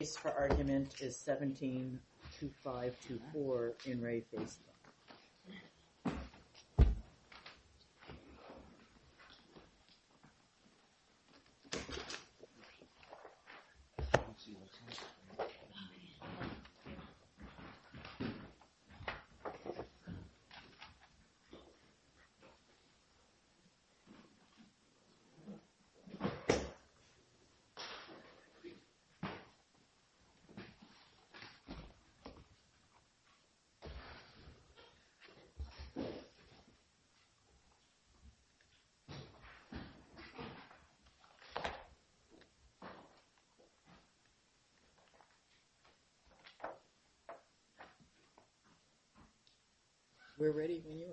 The case for argument is 17-524 in Re Facebook. We're ready when you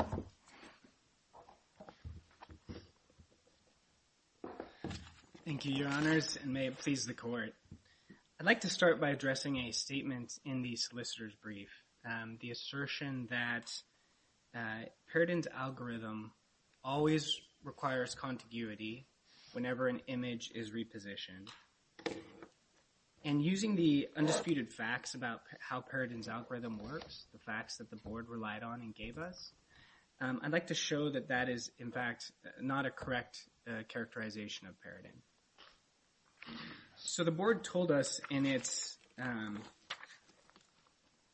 are. Thank you, Your Honors, and may it please the Court I'd like to start by addressing a statement in the solicitor's brief, the assertion that Peridin's algorithm always requires contiguity whenever an image is repositioned. And using the undisputed facts about how Peridin's algorithm works, the facts that the Board relied on and gave us, I'd like to show that that is, in fact, not a correct characterization of Peridin. So the Board told us in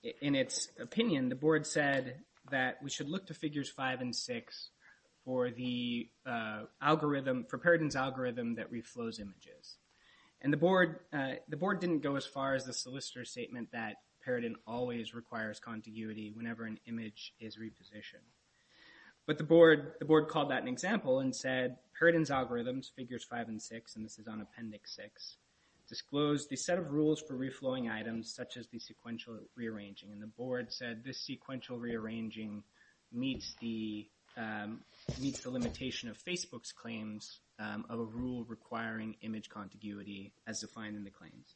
its opinion, the Board said that we should look to Figures 5 and 6 for Peridin's algorithm that reflows images. And the Board didn't go as far as the solicitor's statement that Peridin always requires contiguity whenever an image is repositioned. But the Board called that an example and said, Peridin's algorithms, Figures 5 and 6, and this is on Appendix 6, disclose the set of rules for reflowing items such as the sequential rearranging. And the Board said this sequential rearranging meets the limitation of Facebook's claims of a rule requiring image contiguity as defined in the claims.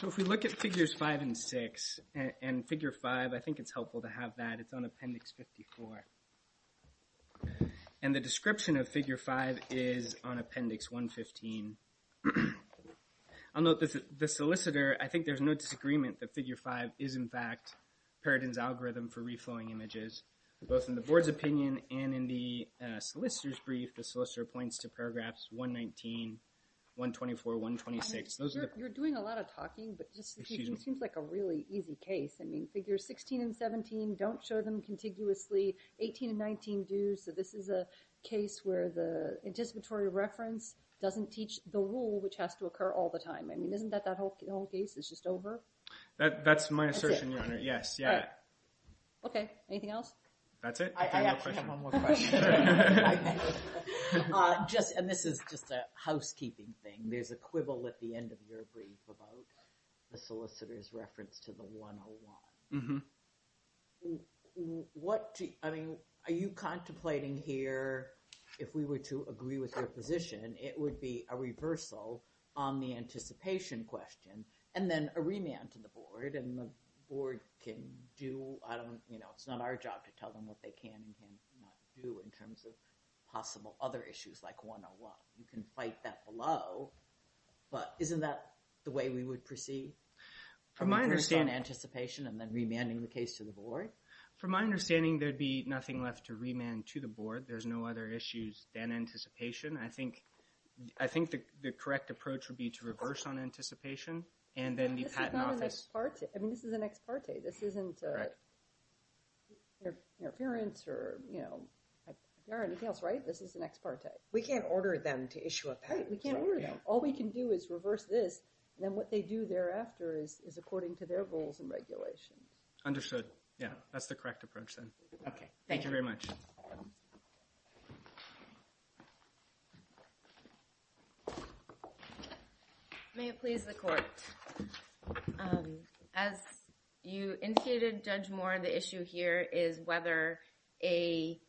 So if we look at Figures 5 and 6, and Figure 5, I think it's helpful to have that. It's on Appendix 54. And the description of Figure 5 is on Appendix 115. I'll note that the solicitor, I think there's no disagreement that Figure 5 is, in fact, Peridin's algorithm for reflowing images. Both in the Board's opinion and in the solicitor's brief, the solicitor points to Paragraphs 119, 124, 126, those are the... You're doing a lot of talking, but this seems like a really easy case. I mean, Figures 16 and 17, don't show them contiguously. 18 and 19 do, so this is a case where the anticipatory reference doesn't teach the rule, which has to occur all the time. I mean, isn't that that whole case is just over? That's my assertion, Your Honor. Yes, yeah. Okay. Anything else? That's it. I have one more question. Just, and this is just a housekeeping thing. There's a quibble at the end of your brief about the solicitor's reference to the 101. Mm-hmm. What, I mean, are you contemplating here, if we were to agree with your position, it would be a reversal on the anticipation question and then a remand to the Board, and the Board can do, I don't, you know, it's not our job to tell them what they can and can not do in terms of possible other issues like 101. You can fight that below, but isn't that the way we would proceed? From my understanding... Reverse on anticipation and then remanding the case to the Board? From my understanding, there'd be nothing left to remand to the Board. There's no other issues than anticipation. I think the correct approach would be to reverse on anticipation, and then the Patent Office... This is not an ex parte. I mean, this is an ex parte. This isn't interference or, you know, if there are anything else, right? This is an ex parte. We can't order them to issue a patent. All we can do is reverse this, and then what they do thereafter is according to their goals and regulations. Understood. Yeah, that's the correct approach then. Okay, thank you very much. May it please the Court. As you indicated, Judge Moore, the issue here is whether a...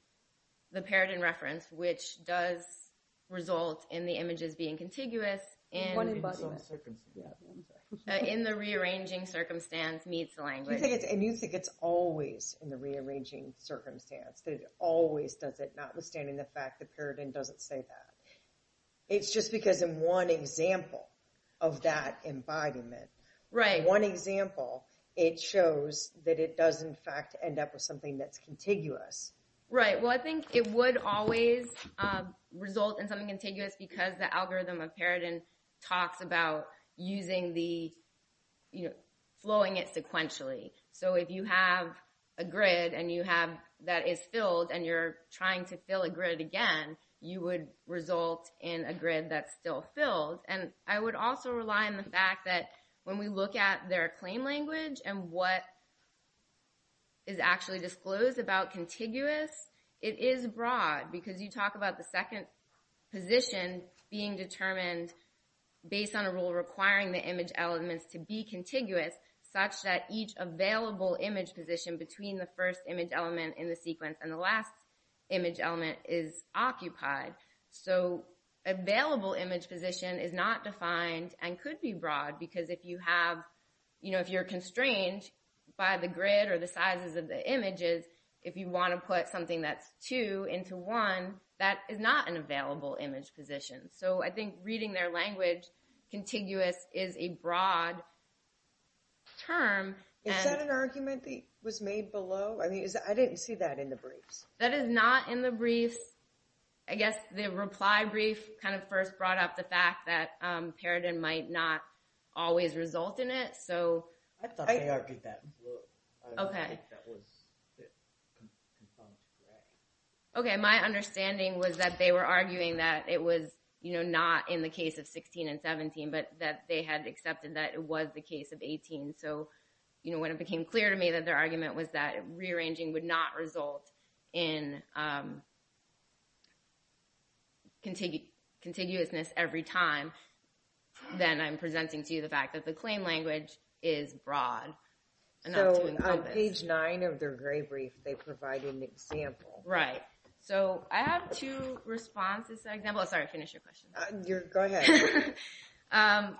which does result in the images being contiguous... One embodiment. ...in the rearranging circumstance meets the language. And you think it's always in the rearranging circumstance. That it always does it, notwithstanding the fact the paradigm doesn't say that. It's just because in one example of that embodiment... Right. One example, it shows that it does, in fact, end up with something that's contiguous. Right. Well, I think it would always result in something contiguous because the algorithm of paradigm talks about using the... flowing it sequentially. So if you have a grid that is filled and you're trying to fill a grid again, you would result in a grid that's still filled. And I would also rely on the fact that when we look at their claim language and what is actually disclosed about contiguous, it is broad. Because you talk about the second position being determined based on a rule requiring the image elements to be contiguous such that each available image position between the first image element in the sequence and the last image element is occupied. So available image position is not defined and could be broad because if you're constrained by the grid or the sizes of the images if you want to put something that's 2 into 1 that is not an available image position. So I think reading their language contiguous is a broad term. Is that an argument that was made below? I didn't see that in the briefs. That is not in the briefs. I guess the reply brief kind of first brought up the fact that paradigm might not always result in it. My understanding was that they were arguing that it was not in the case of 16 and 17 but that they had accepted that it was the case of 18. So when it became clear to me that their argument was that rearranging would not result in contiguousness every time then I'm presenting to you the fact that the claim language is broad enough to encompass. So on page 9 of their gray brief they provided an example. Right. So I have two responses to that example. Sorry, finish your question.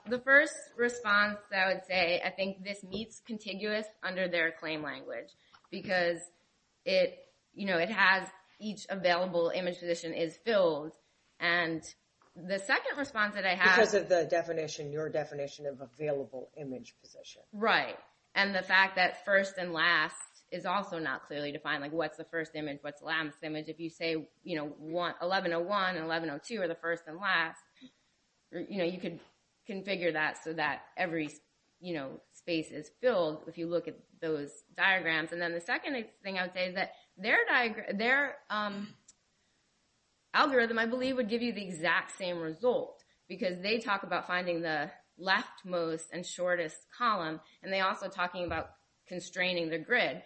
The first response I would say I think this meets contiguous under their claim language because it has each available image position is filled and the second response that I have Because of your definition of available image position. Right. And the fact that first and last is also not clearly defined like what's the first image what's the last image. If you say 1101 and 1102 are the first and last you could configure that so that every space is filled if you look at those diagrams. And then the second thing I would say is that their algorithm I believe would give you the exact same result because they talk about finding the leftmost and shortest column and they're also talking about constraining the grid.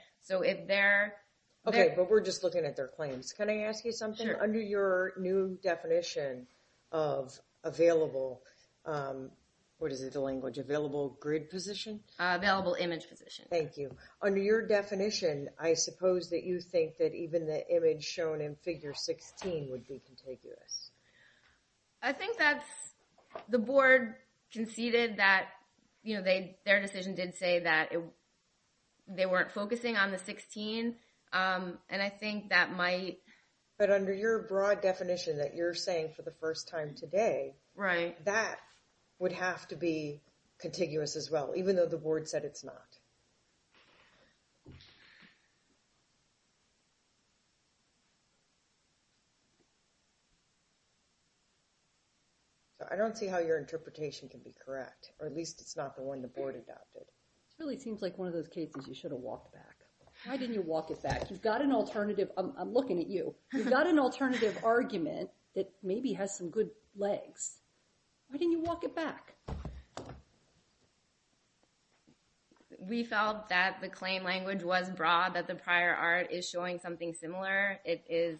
Okay, but we're just looking at their claims. Can I ask you something? Under your new definition of available, what is it the language available grid position? Available image position. Thank you. Under your definition I suppose that you think that even the image shown in figure 16 would be contiguous. I think that's the board conceded that their decision did say that they weren't focusing on the 16 and I think that might But under your broad definition that you're saying for the first time today, that would have to be contiguous as well even though the board said it's not. I don't see how your interpretation can be correct or at least it's not the one the board adopted. It really seems like one of those cases you should have walked back. Why didn't you walk it back? You've got an alternative argument that maybe has some good legs. Why didn't you walk it back? We felt that the claim language was broad that the prior art is showing something similar. It is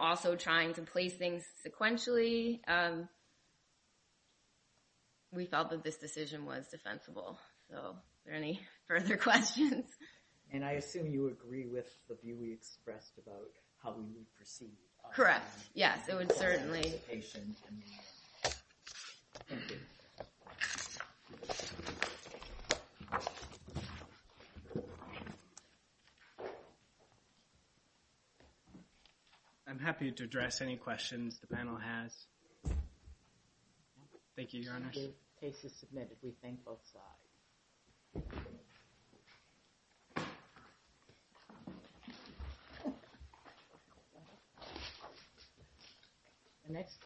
also trying to place things sequentially. Basically we felt that this decision was defensible. Are there any further questions? I assume you agree with the view we expressed about how we need to proceed. Correct. Yes, it would certainly. I'm happy to address any questions the panel has. Thank you.